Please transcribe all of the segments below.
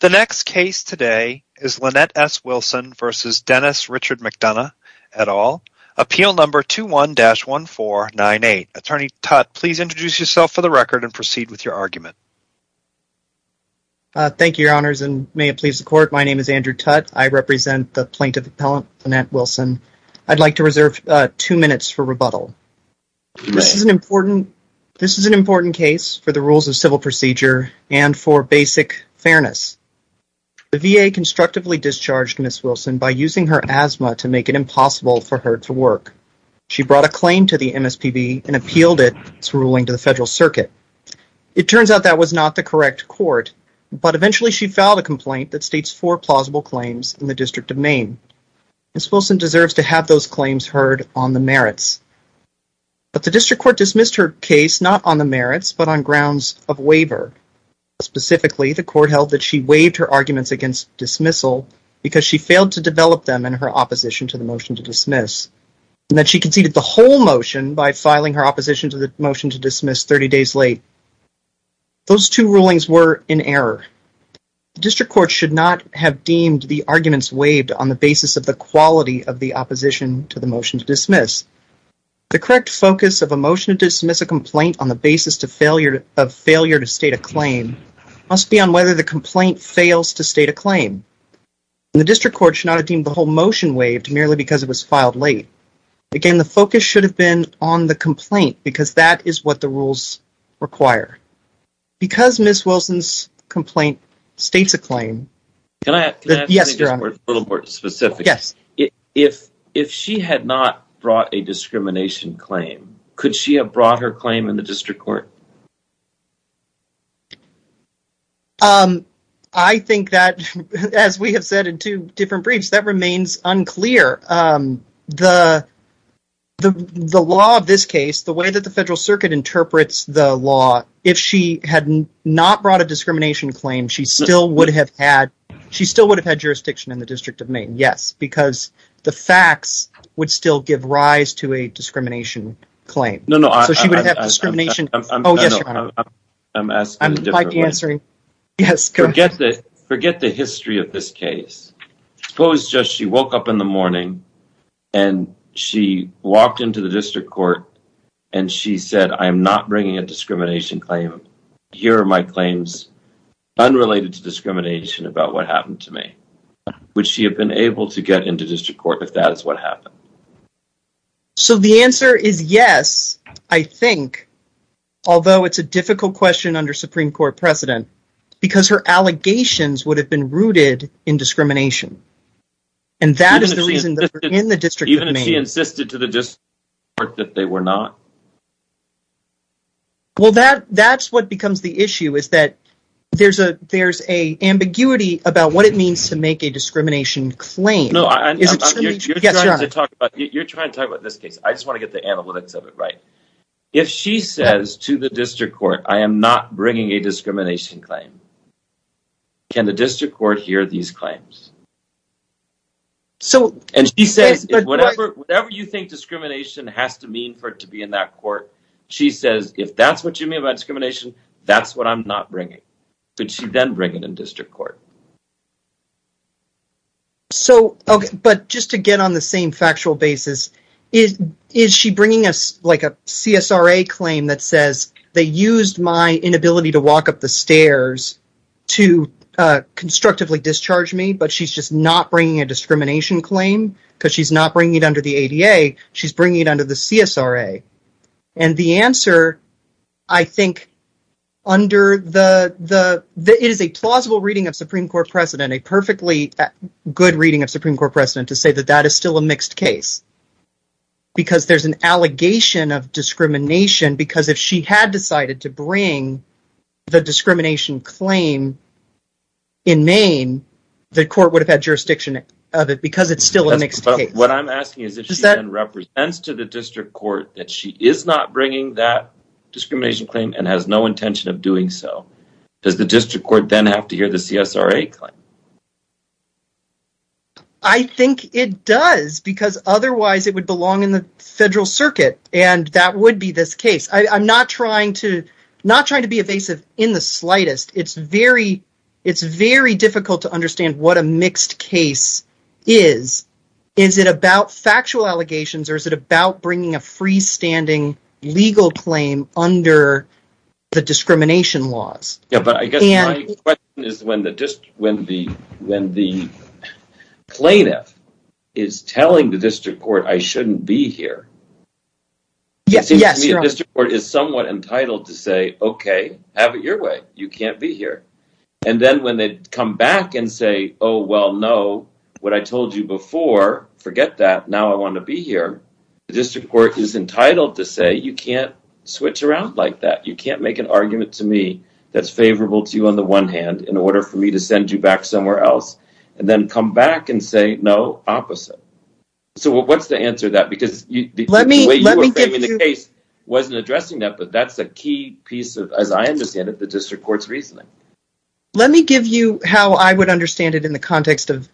The next case today is Lynette S. Wilson v. Dennis Richard McDonough, et al., Appeal No. 21-1498. Attorney Tutt, please introduce yourself for the record and proceed with your argument. Thank you, Your Honors, and may it please the Court, my name is Andrew Tutt. I represent the plaintiff appellant Lynette Wilson. I'd like to reserve two minutes for rebuttal. This is an important case for the rules of civil procedure and for basic fairness. The VA constructively discharged Ms. Wilson by using her asthma to make it impossible for her to work. She brought a claim to the MSPB and appealed its ruling to the Federal Circuit. It turns out that was not the correct court, but eventually she filed a complaint that states four plausible claims in the District of Maine. Ms. Wilson deserves to have those claims heard on the merits. But the District Court dismissed her case not on the merits, but on grounds of waiver. Specifically, the Court held that she waived her arguments against dismissal because she failed to develop them in her opposition to the motion to dismiss, and that she conceded the whole motion by filing her opposition to the motion to dismiss 30 days late. Those two rulings were in error. The District Court should not have deemed the arguments waived on the basis of the quality of the opposition to the motion to dismiss. The correct focus of a motion to dismiss a complaint on the basis of failure to state a claim must be on whether the complaint fails to state a claim. The District Court should not have deemed the whole motion waived merely because it was filed late. Again, the focus should have been on the complaint because that is what the rules require. Because Ms. Wilson's complaint states a claim... Can I ask you something a little more specific? Yes. If she had not brought a discrimination claim, could she have brought her claim in the District Court? I think that, as we have said in two different briefs, that remains unclear. The law of this case, the way that the Federal Circuit interprets the law, if she had not brought a discrimination claim, she still would have had jurisdiction in the District of Maine. Yes. Because the facts would still give rise to a discrimination claim. No, no. So she would have discrimination... Oh, yes, Your Honor. I'm asking a different question. Forget the history of this case. Suppose just she woke up in the morning and she walked into the District Court and she said, I am not bringing a discrimination claim. Here are my claims unrelated to discrimination about what happened to me. Would she have been able to get into District Court if that is what happened? So the answer is yes, I think, although it's a difficult question under Supreme Court precedent because her allegations would have been rooted in discrimination. And that is the reason that we're in the District of Maine. Even if she insisted to the District Court that they were not? Well, that's what becomes the issue is that there's an ambiguity about what it means to make a discrimination claim. No, I'm not... Yes, Your Honor. You're trying to talk about this case. I just want to get the analytics of it right. If she says to the District Court, I am not bringing a discrimination claim. Can the District Court hear these claims? So... And she says, whatever you think discrimination has to mean for it to be in that court, she says, if that's what you mean by discrimination, that's what I'm not bringing. Could she then bring it in District Court? So, but just to get on the same factual basis, is she bringing us like a CSRA claim that says they used my inability to walk up the stairs to constructively discharge me, but she's just not bringing a discrimination claim because she's not bringing it under the ADA. She's bringing it under the CSRA. And the answer, I think, under the... It is a plausible reading of Supreme Court precedent, a perfectly good reading of Supreme Court precedent to say that that is still a mixed case. Because there's an allegation of discrimination because if she had decided to bring the discrimination claim in Maine, the court would have had jurisdiction of it because it's still a mixed case. What I'm asking is if she then represents to the District Court that she is not bringing that discrimination claim and has no intention of doing so, does the District Court then have to hear the CSRA claim? I think it does because otherwise it would belong in the federal circuit. And that would be this case. I'm not trying to be evasive in the slightest. It's very difficult to understand what a mixed case is. Is it about factual allegations or is it about bringing a freestanding legal claim under the discrimination laws? Yeah, but I guess my question is when the plaintiff is telling the District Court I shouldn't be here, it seems to me the District Court is somewhat entitled to say, okay, have it your way. You can't be here. And then when they come back and say, oh, well, no, what I told you before, forget that. Now I want to be here. The District Court is entitled to say you can't switch around like that. You can't make an argument to me that's favorable to you on the one hand in order for me to send you back somewhere else and then come back and say no, opposite. So what's the answer to that? Because the way you were framing the case wasn't addressing that, but that's a key piece of, as I understand it, the District Court's reasoning. Let me give you how I would understand it in the context of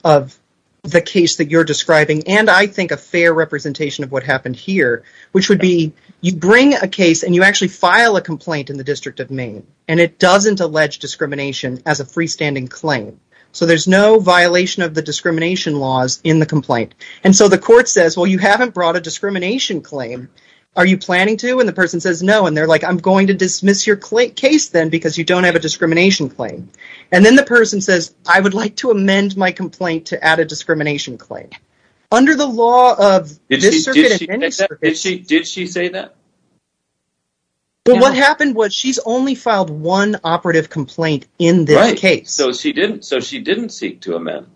the case that you're describing and I think a fair representation of what happened here, which would be you bring a case and you actually file a complaint in the District of Maine and it doesn't allege discrimination as a freestanding claim. So there's no violation of the discrimination laws in the complaint. And so the court says, well, you haven't brought a discrimination claim. Are you planning to? And the person says no. And they're like, I'm going to dismiss your case then because you don't have a discrimination claim. And then the person says, I would like to amend my complaint to add a discrimination claim. Under the law of this circuit and any circuit. Did she say that? What happened was she's only filed one operative complaint in this case. So she didn't. So she didn't seek to amend.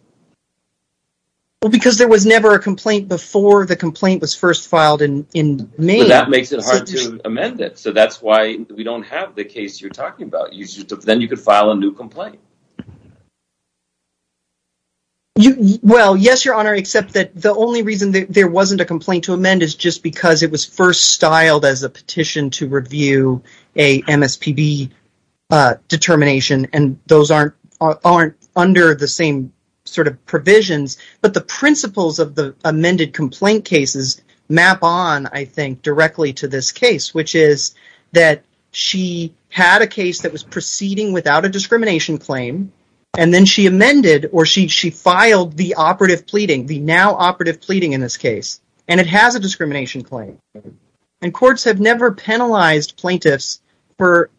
Because there was never a complaint before the complaint was first filed in Maine. That makes it hard to amend it. So that's why we don't have the case you're talking about. Then you could file a new complaint. Well, yes, Your Honor, except that the only reason there wasn't a complaint to amend is just because it was first styled as a petition to review a MSPB determination. And those aren't aren't under the same sort of provisions. But the principles of the amended complaint cases map on, I think, directly to this case, which is that she had a case that was proceeding without a discrimination claim. And then she amended or she she filed the operative pleading, the now operative pleading in this case. And it has a discrimination claim. And courts have never penalized plaintiffs for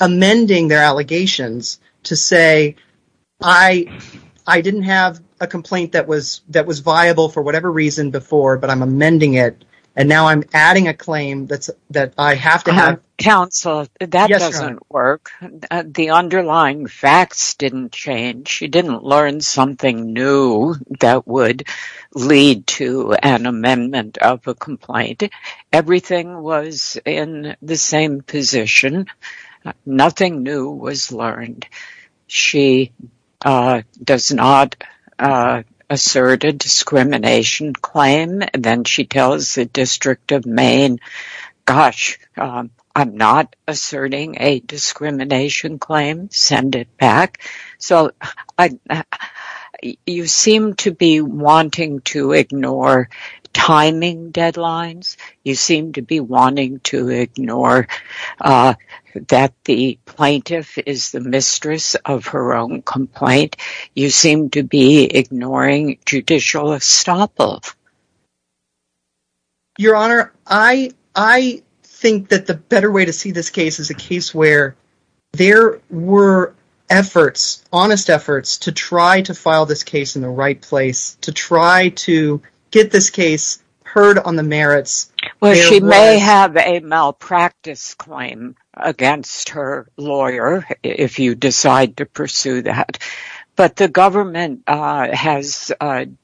amending their allegations to say, I, I didn't have a complaint that was that was viable for whatever reason before, but I'm amending it. And now I'm adding a claim that's that I have to have counsel. That doesn't work. The underlying facts didn't change. She didn't learn something new that would lead to an amendment of a complaint. Everything was in the same position. Nothing new was learned. She does not assert a discrimination claim. Then she tells the District of Maine, gosh, I'm not asserting a discrimination claim. Send it back. So you seem to be wanting to ignore timing deadlines. You seem to be wanting to ignore that the plaintiff is the mistress of her own complaint. You seem to be ignoring judicial estoppel. Your Honor, I, I think that the better way to see this case is a case where there were efforts, honest efforts to try to file this case in the right place to try to get this case heard on the merits. Well, she may have a malpractice claim against her lawyer if you decide to pursue that. But the government has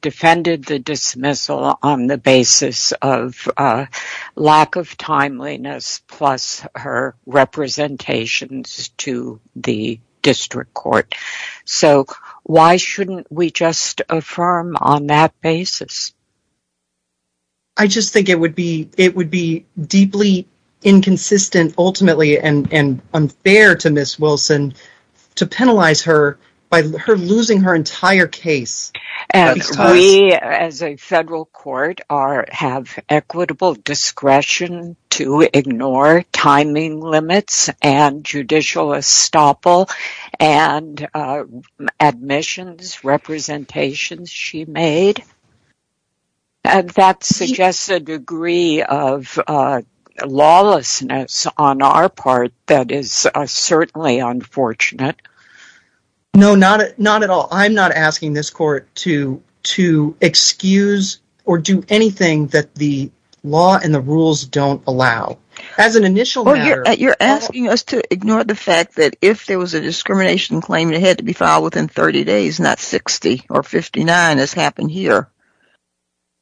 defended the dismissal on the basis of lack of timeliness plus her representations to the district court. So why shouldn't we just affirm on that basis? I just think it would be it would be deeply inconsistent ultimately and unfair to Miss Wilson to penalize her by her losing her entire case. We as a federal court have equitable discretion to ignore timing limits and judicial estoppel and admissions representations she made. And that suggests a degree of lawlessness on our part that is certainly unfortunate. No, not not at all. I'm not asking this court to to excuse or do anything that the law and the rules don't allow. As an initial matter, you're asking us to ignore the fact that if there was a discrimination claim, it had to be filed within 30 days, not 60 or 59 as happened here.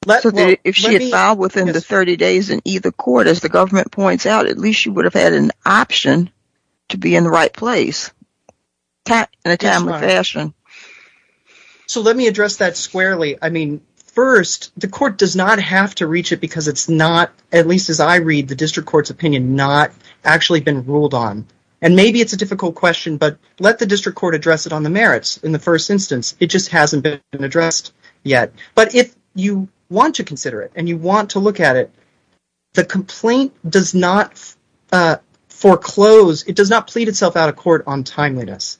If she had filed within the 30 days in either court, as the government points out, at least she would have had an option to be in the right place in a timely fashion. So let me address that squarely. I mean, first, the court does not have to reach it because it's not, at least as I read the district court's opinion, not actually been ruled on. And maybe it's a difficult question, but let the district court address it on the merits. In the first instance, it just hasn't been addressed yet. But if you want to consider it and you want to look at it, the complaint does not foreclose. It does not plead itself out of court on timeliness.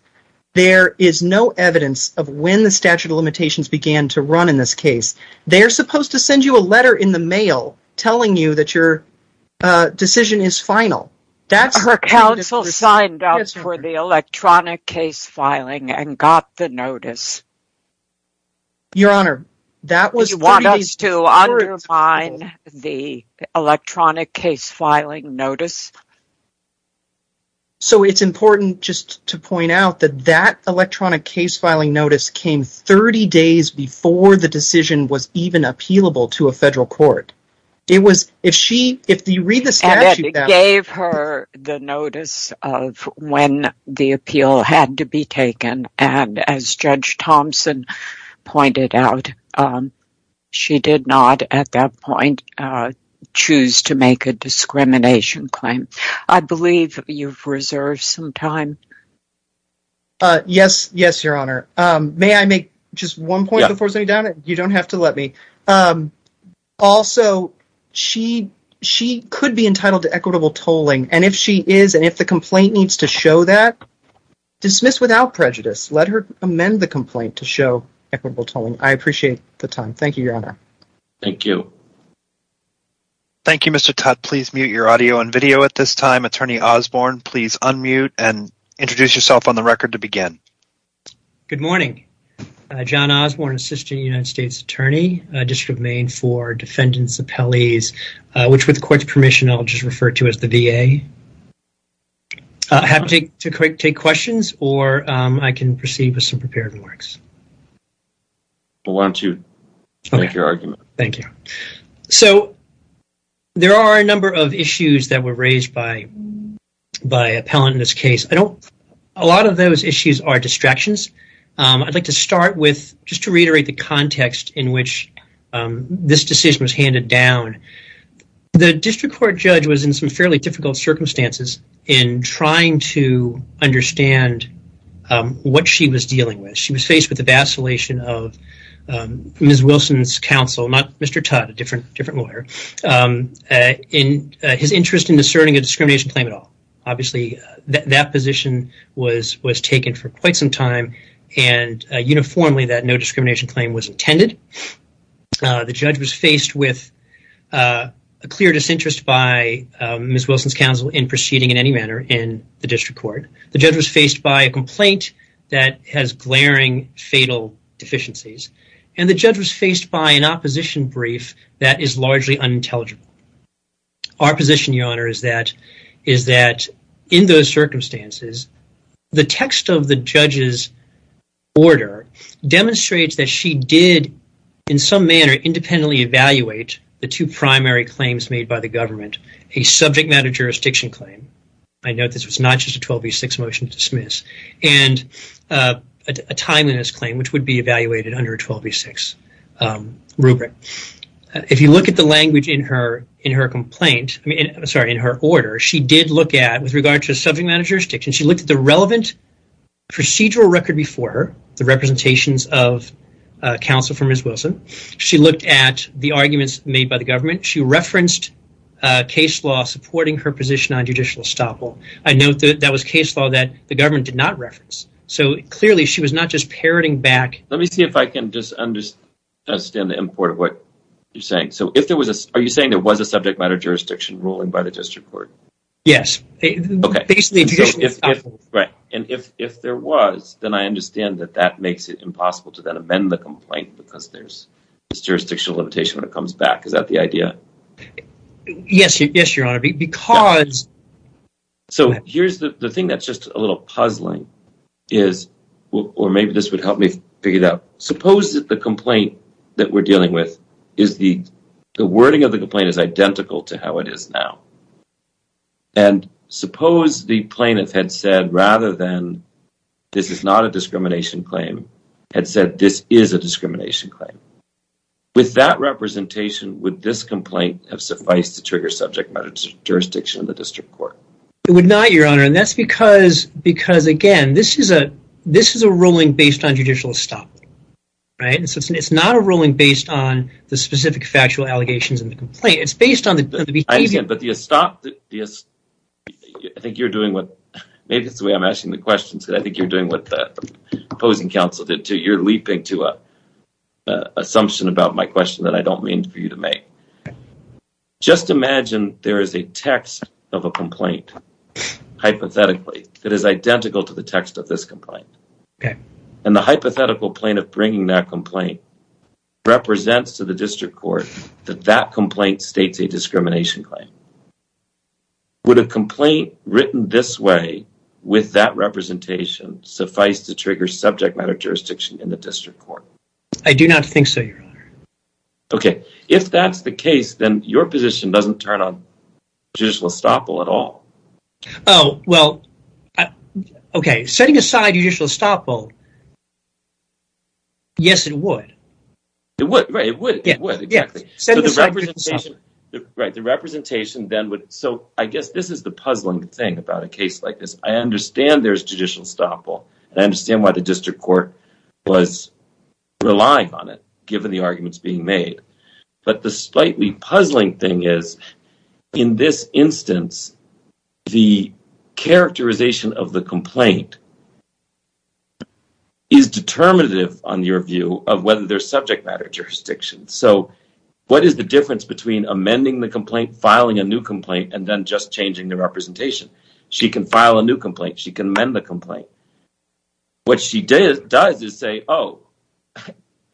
There is no evidence of when the statute of limitations began to run in this case. They are supposed to send you a letter in the mail telling you that your decision is final. Her counsel signed up for the electronic case filing and got the notice. Your Honor, that was 30 days before it was approved. Do you want us to undermine the electronic case filing notice? So it's important just to point out that that electronic case filing notice came 30 days before the decision was even appealable to a federal court. And it gave her the notice of when the appeal had to be taken. And as Judge Thompson pointed out, she did not, at that point, choose to make a discrimination claim. I believe you've reserved some time. Yes, yes, Your Honor. May I make just one point? You don't have to let me. Also, she could be entitled to equitable tolling. And if she is, and if the complaint needs to show that, dismiss without prejudice. Let her amend the complaint to show equitable tolling. I appreciate the time. Thank you, Your Honor. Thank you. Thank you, Mr. Tutt. Please mute your audio and video at this time. Attorney Osborne, please unmute and introduce yourself on the record to begin. Good morning. John Osborne, Assistant United States Attorney, District of Maine for Defendant's Appellees, which with court's permission, I'll just refer to as the VA. Happy to take questions, or I can proceed with some prepared remarks. Go on to make your argument. Thank you. So there are a number of issues that were raised by an appellant in this case. A lot of those issues are distractions. I'd like to start with just to reiterate the context in which this decision was handed down. The district court judge was in some fairly difficult circumstances in trying to understand what she was dealing with. She was faced with the vacillation of Ms. Wilson's counsel, not Mr. Tutt, a different lawyer, in his interest in discerning a discrimination claim at all. Obviously, that position was taken for quite some time, and uniformly that no discrimination claim was intended. The judge was faced with a clear disinterest by Ms. Wilson's counsel in proceeding in any manner in the district court. The judge was faced by a complaint that has glaring fatal deficiencies, and the judge was faced by an opposition brief that is largely unintelligible. Our position, Your Honor, is that in those circumstances, the text of the judge's order demonstrates that she did, in some manner, independently evaluate the two primary claims made by the government, a subject matter jurisdiction claim. I note this was not just a 12v6 motion to dismiss, and a timeliness claim, which would be evaluated under a 12v6 rubric. If you look at the language in her order, she did look at, with regard to subject matter jurisdiction, she looked at the relevant procedural record before her, the representations of counsel for Ms. Wilson. She looked at the arguments made by the government. She referenced case law supporting her position on judicial estoppel. I note that that was case law that the government did not reference. Clearly, she was not just parroting back. Let me see if I can understand the import of what you're saying. Are you saying there was a subject matter jurisdiction ruling by the district court? Yes. If there was, then I understand that that makes it impossible to amend the complaint because there's a jurisdictional limitation when it comes back. Is that the idea? Yes, Your Honor. The thing that's just a little puzzling is, or maybe this would help me figure it out, suppose that the complaint that we're dealing with, the wording of the complaint is identical to how it is now. Suppose the plaintiff had said, rather than this is not a discrimination claim, had said this is a discrimination claim. With that representation, would this complaint have sufficed to trigger subject matter jurisdiction in the district court? It would not, Your Honor, and that's because, again, this is a ruling based on judicial estoppel. It's not a ruling based on the specific factual allegations in the complaint. It's based on the behavior. I understand, but the estoppel, I think you're doing what, maybe that's the way I'm asking the questions, but I think you're doing what the opposing counsel did, too. You're leaping to an assumption about my question that I don't mean for you to make. Just imagine there is a text of a complaint, hypothetically, that is identical to the text of this complaint, and the hypothetical plaintiff bringing that complaint represents to the district court that that complaint states a discrimination claim. Would a complaint written this way, with that representation, suffice to trigger subject matter jurisdiction in the district court? I do not think so, Your Honor. Okay, if that's the case, then your position doesn't turn on judicial estoppel at all. Oh, well, okay, setting aside judicial estoppel, yes, it would. It would, right, it would, exactly. Right, the representation then would, so I guess this is the puzzling thing about a case like this. I understand there's judicial estoppel, and I understand why the district court was relying on it, given the arguments being made, but the slightly puzzling thing is, in this instance, the characterization of the complaint is determinative, on your view, of whether there's subject matter jurisdiction. So what is the difference between amending the complaint, filing a new complaint, and then just changing the representation? She can file a new complaint. She can amend the complaint. What she does is say, oh,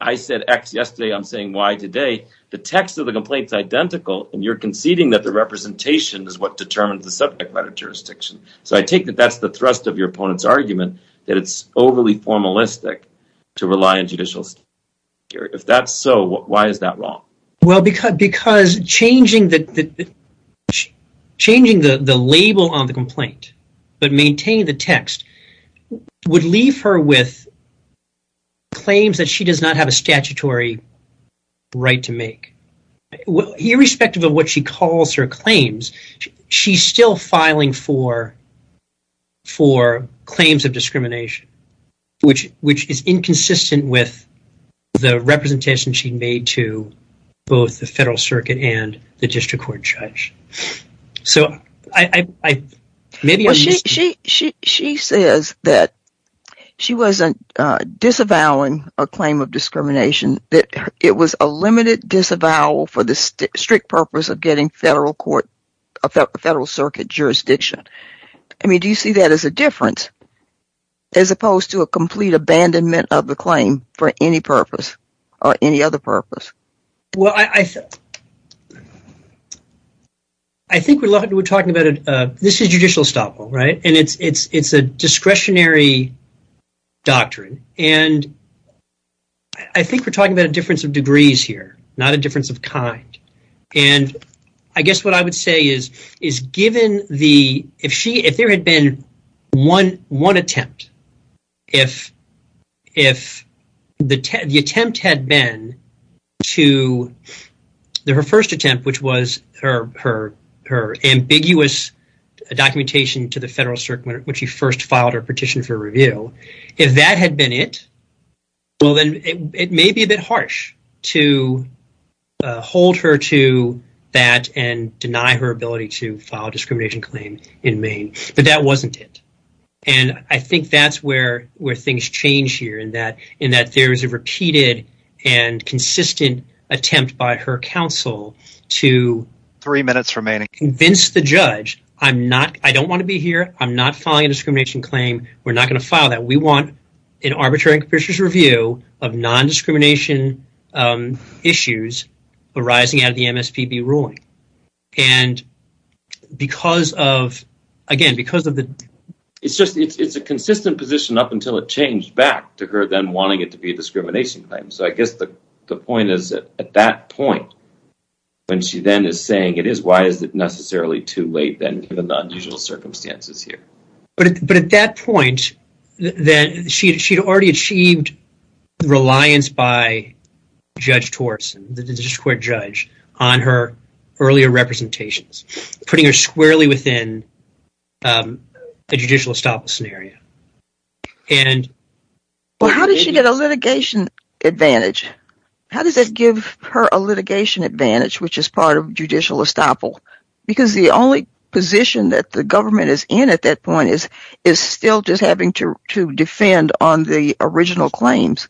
I said X yesterday. I'm saying Y today. The text of the complaint's identical, and you're conceding that the representation is what determines the subject matter jurisdiction. So I take that that's the thrust of your opponent's argument, that it's overly formalistic to rely on judicial estoppel here. If that's so, why is that wrong? Well, because changing the label on the complaint but maintaining the text would leave her with claims that she does not have a statutory right to make. Irrespective of what she calls her claims, she's still filing for claims of discrimination, which is inconsistent with the representation she made to both the federal circuit and the district court judge. So maybe I'm mis- Well, she says that she wasn't disavowing a claim of discrimination, that it was a limited disavowal for the strict purpose of getting federal circuit jurisdiction. I mean, do you see that as a difference? As opposed to a complete abandonment of the claim for any purpose or any other purpose? Well, I think we're talking about it. This is judicial estoppel, right? And it's a discretionary doctrine. And I think we're talking about a difference of degrees here, not a difference of kind. And I guess what I would say is, if there had been one attempt, if the attempt had been to, her first attempt, which was her ambiguous documentation to the federal circuit when she first filed her petition for review, if that had been it, well, then it may be a bit harsh to hold her to that and deny her ability to file a discrimination claim in Maine. But that wasn't it. And I think that's where things change here, in that there is a repeated and consistent attempt by her counsel to- Three minutes remaining. convince the judge, I don't want to be here. I'm not filing a discrimination claim. We're not going to file that. We want an arbitrary and capricious review of non-discrimination issues arising out of the MSPB ruling. And because of, again, because of the- It's just, it's a consistent position up until it changed back to her then wanting it to be a discrimination claim. So I guess the point is that at that point, when she then is saying it is, why is it necessarily too late then, given the unusual circumstances here? But at that point, then she had already achieved reliance by Judge Torsen, the district court judge, on her earlier representations, putting her squarely within a judicial estoppel scenario. Well, how did she get a litigation advantage? How does that give her a litigation advantage, which is part of judicial estoppel? Because the only position that the government is in at that point is still just having to defend on the original claims.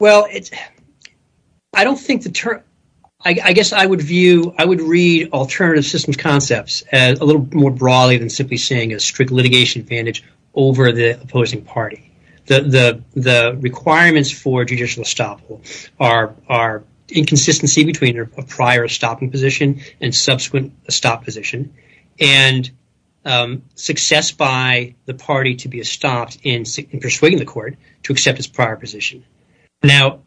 Well, I don't think the term- I guess I would view- I would read alternative systems concepts a little more broadly than simply saying a strict litigation advantage over the opposing party. The requirements for judicial estoppel are inconsistency between a prior estoppel position and subsequent estoppel position. And success by the party to be estopped in persuading the court to accept its prior position. Now,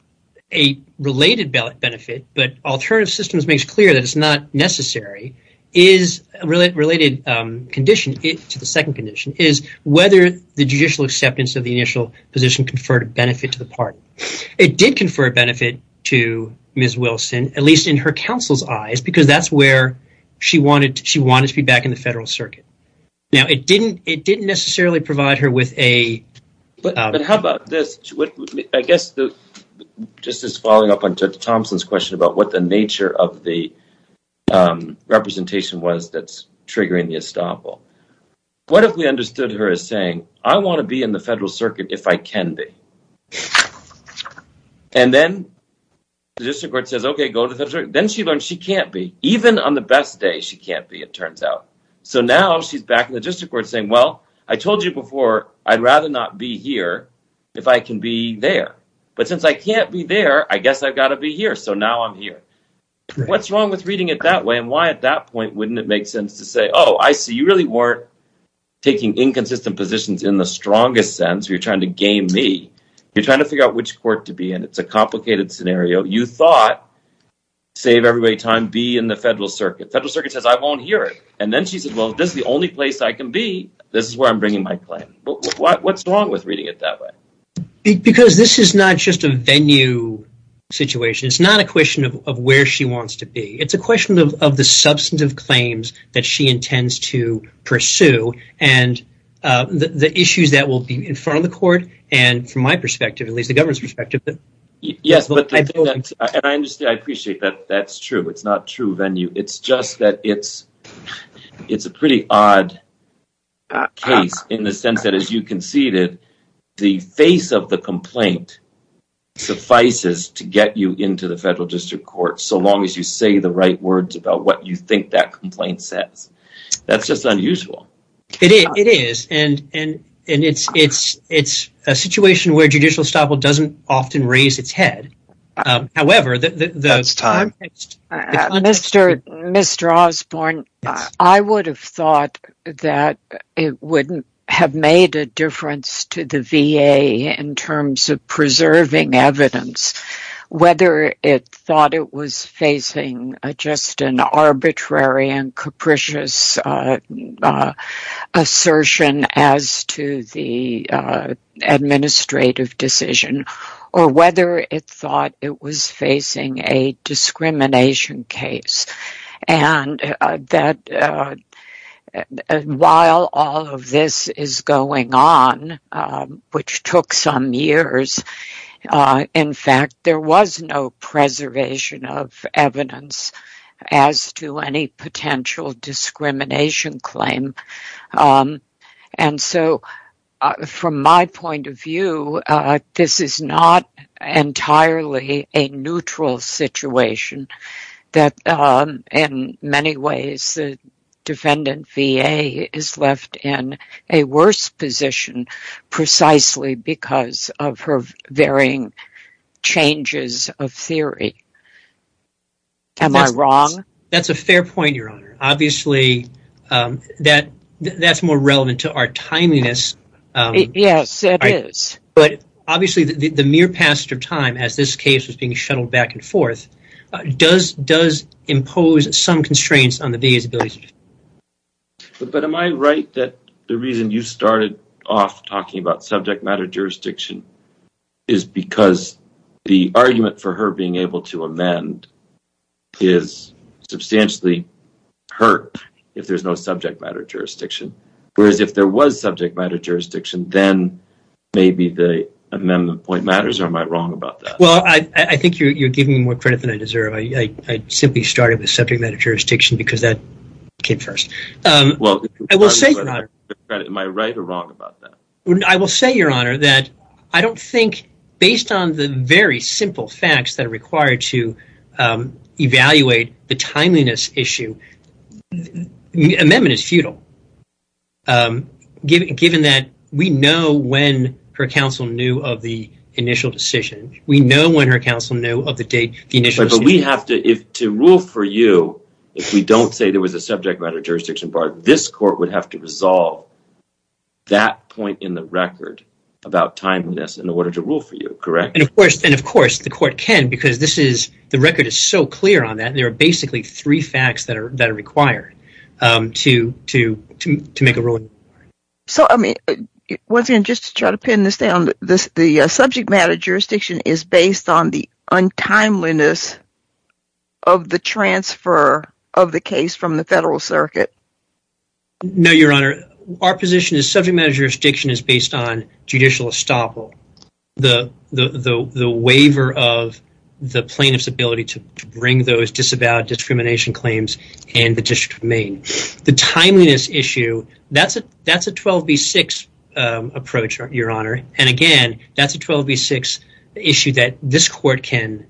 a related benefit, but alternative systems makes clear that it's not necessary, is a related condition to the second condition, is whether the judicial acceptance of the initial position conferred a benefit to the party. It did confer a benefit to Ms. Wilson, at least in her counsel's eyes, because that's where she wanted to be back in the federal circuit. Now, it didn't necessarily provide her with a- But how about this? I guess just as following up on Judge Thompson's question about what the nature of the representation was that's triggering the estoppel. What if we understood her as saying, I want to be in the federal circuit if I can be. And then the district court says, OK, go to the federal circuit. Then she learned she can't be, even on the best day, she can't be, it turns out. So now she's back in the district court saying, well, I told you before, I'd rather not be here if I can be there. But since I can't be there, I guess I've got to be here. So now I'm here. What's wrong with reading it that way? And why at that point wouldn't it make sense to say, oh, I see you really weren't taking inconsistent positions in the strongest sense. You're trying to game me. You're trying to figure out which court to be in. It's a complicated scenario. You thought, save everybody time, be in the federal circuit. Federal circuit says I won't hear it. And then she said, well, this is the only place I can be. This is where I'm bringing my claim. What's wrong with reading it that way? Because this is not just a venue situation. It's not a question of where she wants to be. It's a question of the substantive claims that she intends to pursue and the issues that will be in front of the court. And from my perspective, at least the government's perspective. Yes, but I understand. I appreciate that. That's true. It's not true venue. It's just that it's it's a pretty odd case in the sense that, as you conceded, the face of the complaint suffices to get you into the federal district court. So long as you say the right words about what you think that complaint says. That's just unusual. It is. And and it's it's it's a situation where judicial estoppel doesn't often raise its head. However, this time, Mr. Mr. Osborne, I would have thought that it wouldn't have made a difference to the V.A. in terms of preserving evidence, whether it thought it was facing just an arbitrary and capricious assertion as to the administrative decision, or whether it thought it was facing a discrimination case. And that while all of this is going on, which took some years, in fact, there was no preservation of evidence as to any potential discrimination claim. And so from my point of view, this is not entirely a neutral situation that in many ways the defendant V.A. is left in a worse position precisely because of her varying changes of theory. Am I wrong? That's a fair point, Your Honor. Obviously, that that's more relevant to our timeliness. Yes, it is. But obviously, the mere passage of time as this case was being shuttled back and forth does does impose some constraints on the V.A.'s ability. But am I right that the reason you started off talking about subject matter jurisdiction is because the argument for her being able to amend is substantially hurt if there's no subject matter jurisdiction? Whereas if there was subject matter jurisdiction, then maybe the amendment point matters, or am I wrong about that? Well, I think you're giving me more credit than I deserve. I simply started with subject matter jurisdiction because that came first. Well, am I right or wrong about that? I will say, Your Honor, that I don't think based on the very simple facts that are required to evaluate the timeliness issue, the amendment is futile. Given that we know when her counsel knew of the initial decision, we know when her counsel knew of the date. But we have to if to rule for you, if we don't say there was a subject matter jurisdiction part, this court would have to resolve that point in the record about timeliness in order to rule for you, correct? And of course, and of course, the court can because this is the record is so clear on that. There are basically three facts that are that are required to to to make a ruling. So, I mean, once again, just to try to pin this down, the subject matter jurisdiction is based on the untimeliness of the transfer of the case from the federal circuit. No, Your Honor, our position is subject matter jurisdiction is based on judicial estoppel. The waiver of the plaintiff's ability to bring those disavowed discrimination claims in the district of Maine. The timeliness issue, that's a that's a 12 v. 6 approach, Your Honor. And again, that's a 12 v. 6 issue that this court can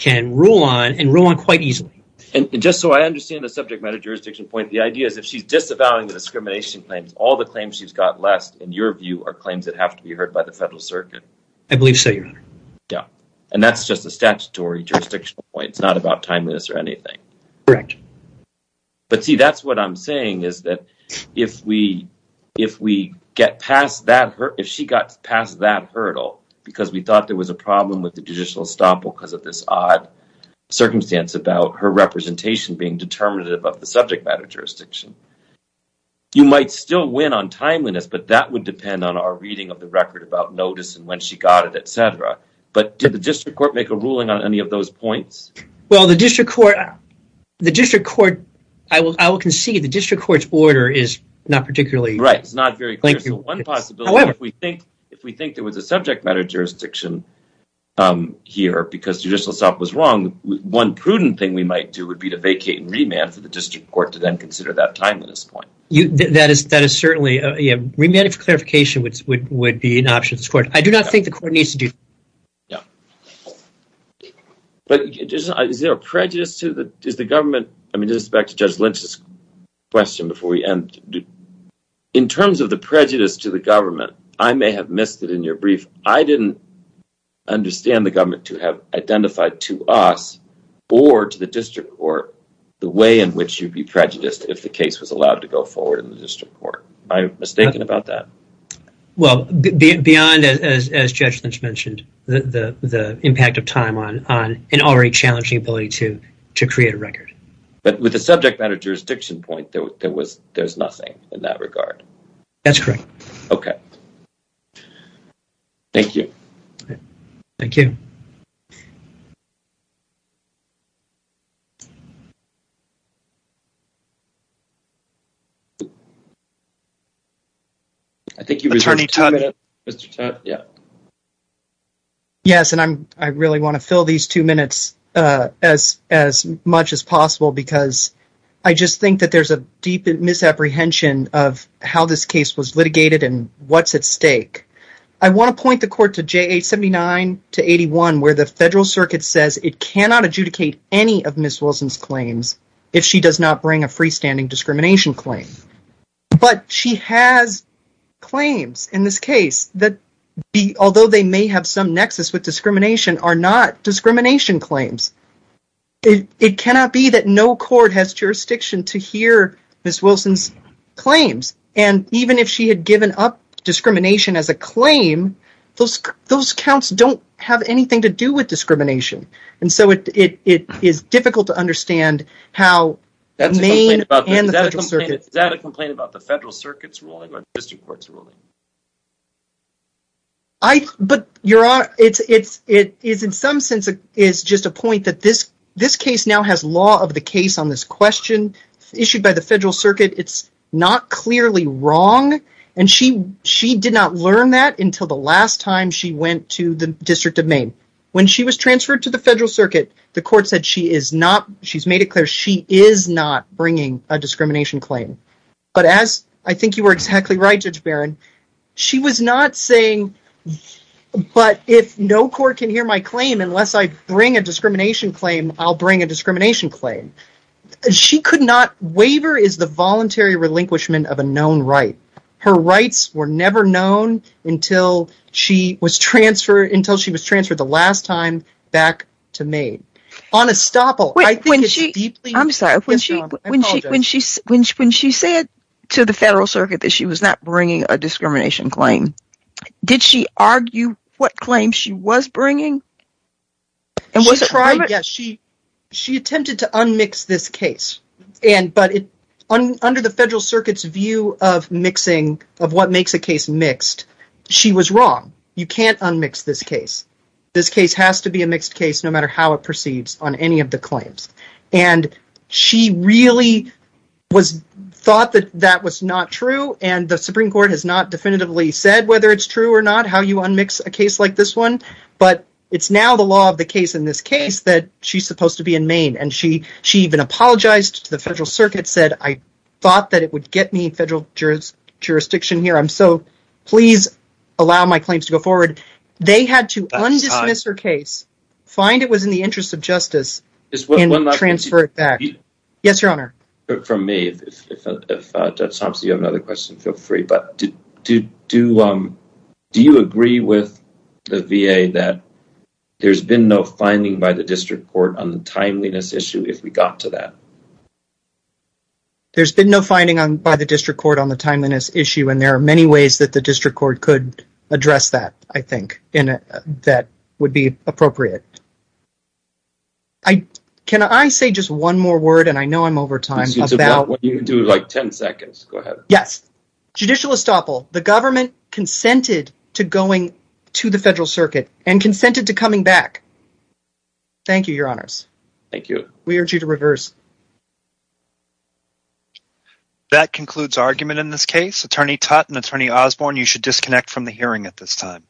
can rule on and rule on quite easily. And just so I understand the subject matter jurisdiction point, the idea is if she's disavowing the discrimination claims, all the claims she's got less, in your view, are claims that have to be heard by the federal circuit. I believe so, Your Honor. Yeah, and that's just a statutory jurisdiction point. It's not about timeliness or anything. Correct. But see, that's what I'm saying is that if we if we get past that, if she got past that hurdle because we thought there was a problem with the judicial estoppel because of this odd circumstance about her representation being determinative of the subject matter jurisdiction. You might still win on timeliness, but that would depend on our reading of the record about notice and when she got it, etc. But did the district court make a ruling on any of those points? Well, the district court, the district court, I will concede the district court's order is not particularly. Right, it's not very clear. However. If we think if we think there was a subject matter jurisdiction here because judicial estoppel was wrong, one prudent thing we might do would be to vacate and remand for the district court to then consider that timeliness point. That is that is certainly a remanded clarification, which would be an option. I do not think the court needs to do that. But is there a prejudice to the government? I mean, just back to Judge Lynch's question before we end. In terms of the prejudice to the government, I may have missed it in your brief. I didn't understand the government to have identified to us or to the district court the way in which you'd be prejudiced if the case was allowed to go forward in the district court. I'm mistaken about that. Well, beyond, as Judge Lynch mentioned, the impact of time on an already challenging ability to to create a record. But with the subject matter jurisdiction point, there was there's nothing in that regard. That's correct. OK. Thank you. Thank you. Thank you. I think he was turning to Mr. Yeah. Yes, and I'm I really want to fill these two minutes as as much as possible, because I just think that there's a deep misapprehension of how this case was litigated and what's at stake. I want to point the court to J.A. Seventy nine to eighty one, where the federal circuit says it cannot adjudicate any of Miss Wilson's claims if she does not bring a freestanding discrimination claim. But she has claims in this case that, although they may have some nexus with discrimination, are not discrimination claims. It cannot be that no court has jurisdiction to hear Miss Wilson's claims. And even if she had given up discrimination as a claim, those those counts don't have anything to do with discrimination. And so it is difficult to understand how that may end up in the federal circuit. Is that a complaint about the federal circuit's ruling or district court's ruling? I but you're it's it is in some sense is just a point that this this case now has law of the case on this question issued by the federal circuit. It's not clearly wrong. And she she did not learn that until the last time she went to the District of Maine when she was transferred to the federal circuit. The court said she is not she's made it clear she is not bringing a discrimination claim. But as I think you were exactly right, Judge Barron, she was not saying. But if no court can hear my claim unless I bring a discrimination claim, I'll bring a discrimination claim. She could not. Waiver is the voluntary relinquishment of a known right. Her rights were never known until she was transferred until she was transferred the last time back to me on a stopper. When she I'm sorry, when she when she when she when she said to the federal circuit that she was not bringing a discrimination claim, did she argue what claim she was bringing? And was it right? Yes, she she attempted to unmix this case. And but under the federal circuit's view of mixing of what makes a case mixed, she was wrong. You can't unmix this case. This case has to be a mixed case no matter how it proceeds on any of the claims. And she really was thought that that was not true. And the Supreme Court has not definitively said whether it's true or not, how you unmix a case like this one. But it's now the law of the case in this case that she's supposed to be in Maine. And she she even apologized to the federal circuit, said I thought that it would get me federal jurisdiction here. So please allow my claims to go forward. They had to dismiss her case, find it was in the interest of justice and transfer it back. Yes, your honor. For me, if you have another question, feel free. But do do do you agree with the V.A. that there's been no finding by the district court on the timeliness issue? If we got to that. There's been no finding by the district court on the timeliness issue, and there are many ways that the district court could address that, I think that would be appropriate. I can I say just one more word and I know I'm over time about what you do like 10 seconds. Go ahead. Yes. Judicial estoppel. The government consented to going to the federal circuit and consented to coming back. Thank you, your honors. Thank you. We urge you to reverse. That concludes argument in this case, Attorney Tutte and Attorney Osborne. You should disconnect from the hearing at this time.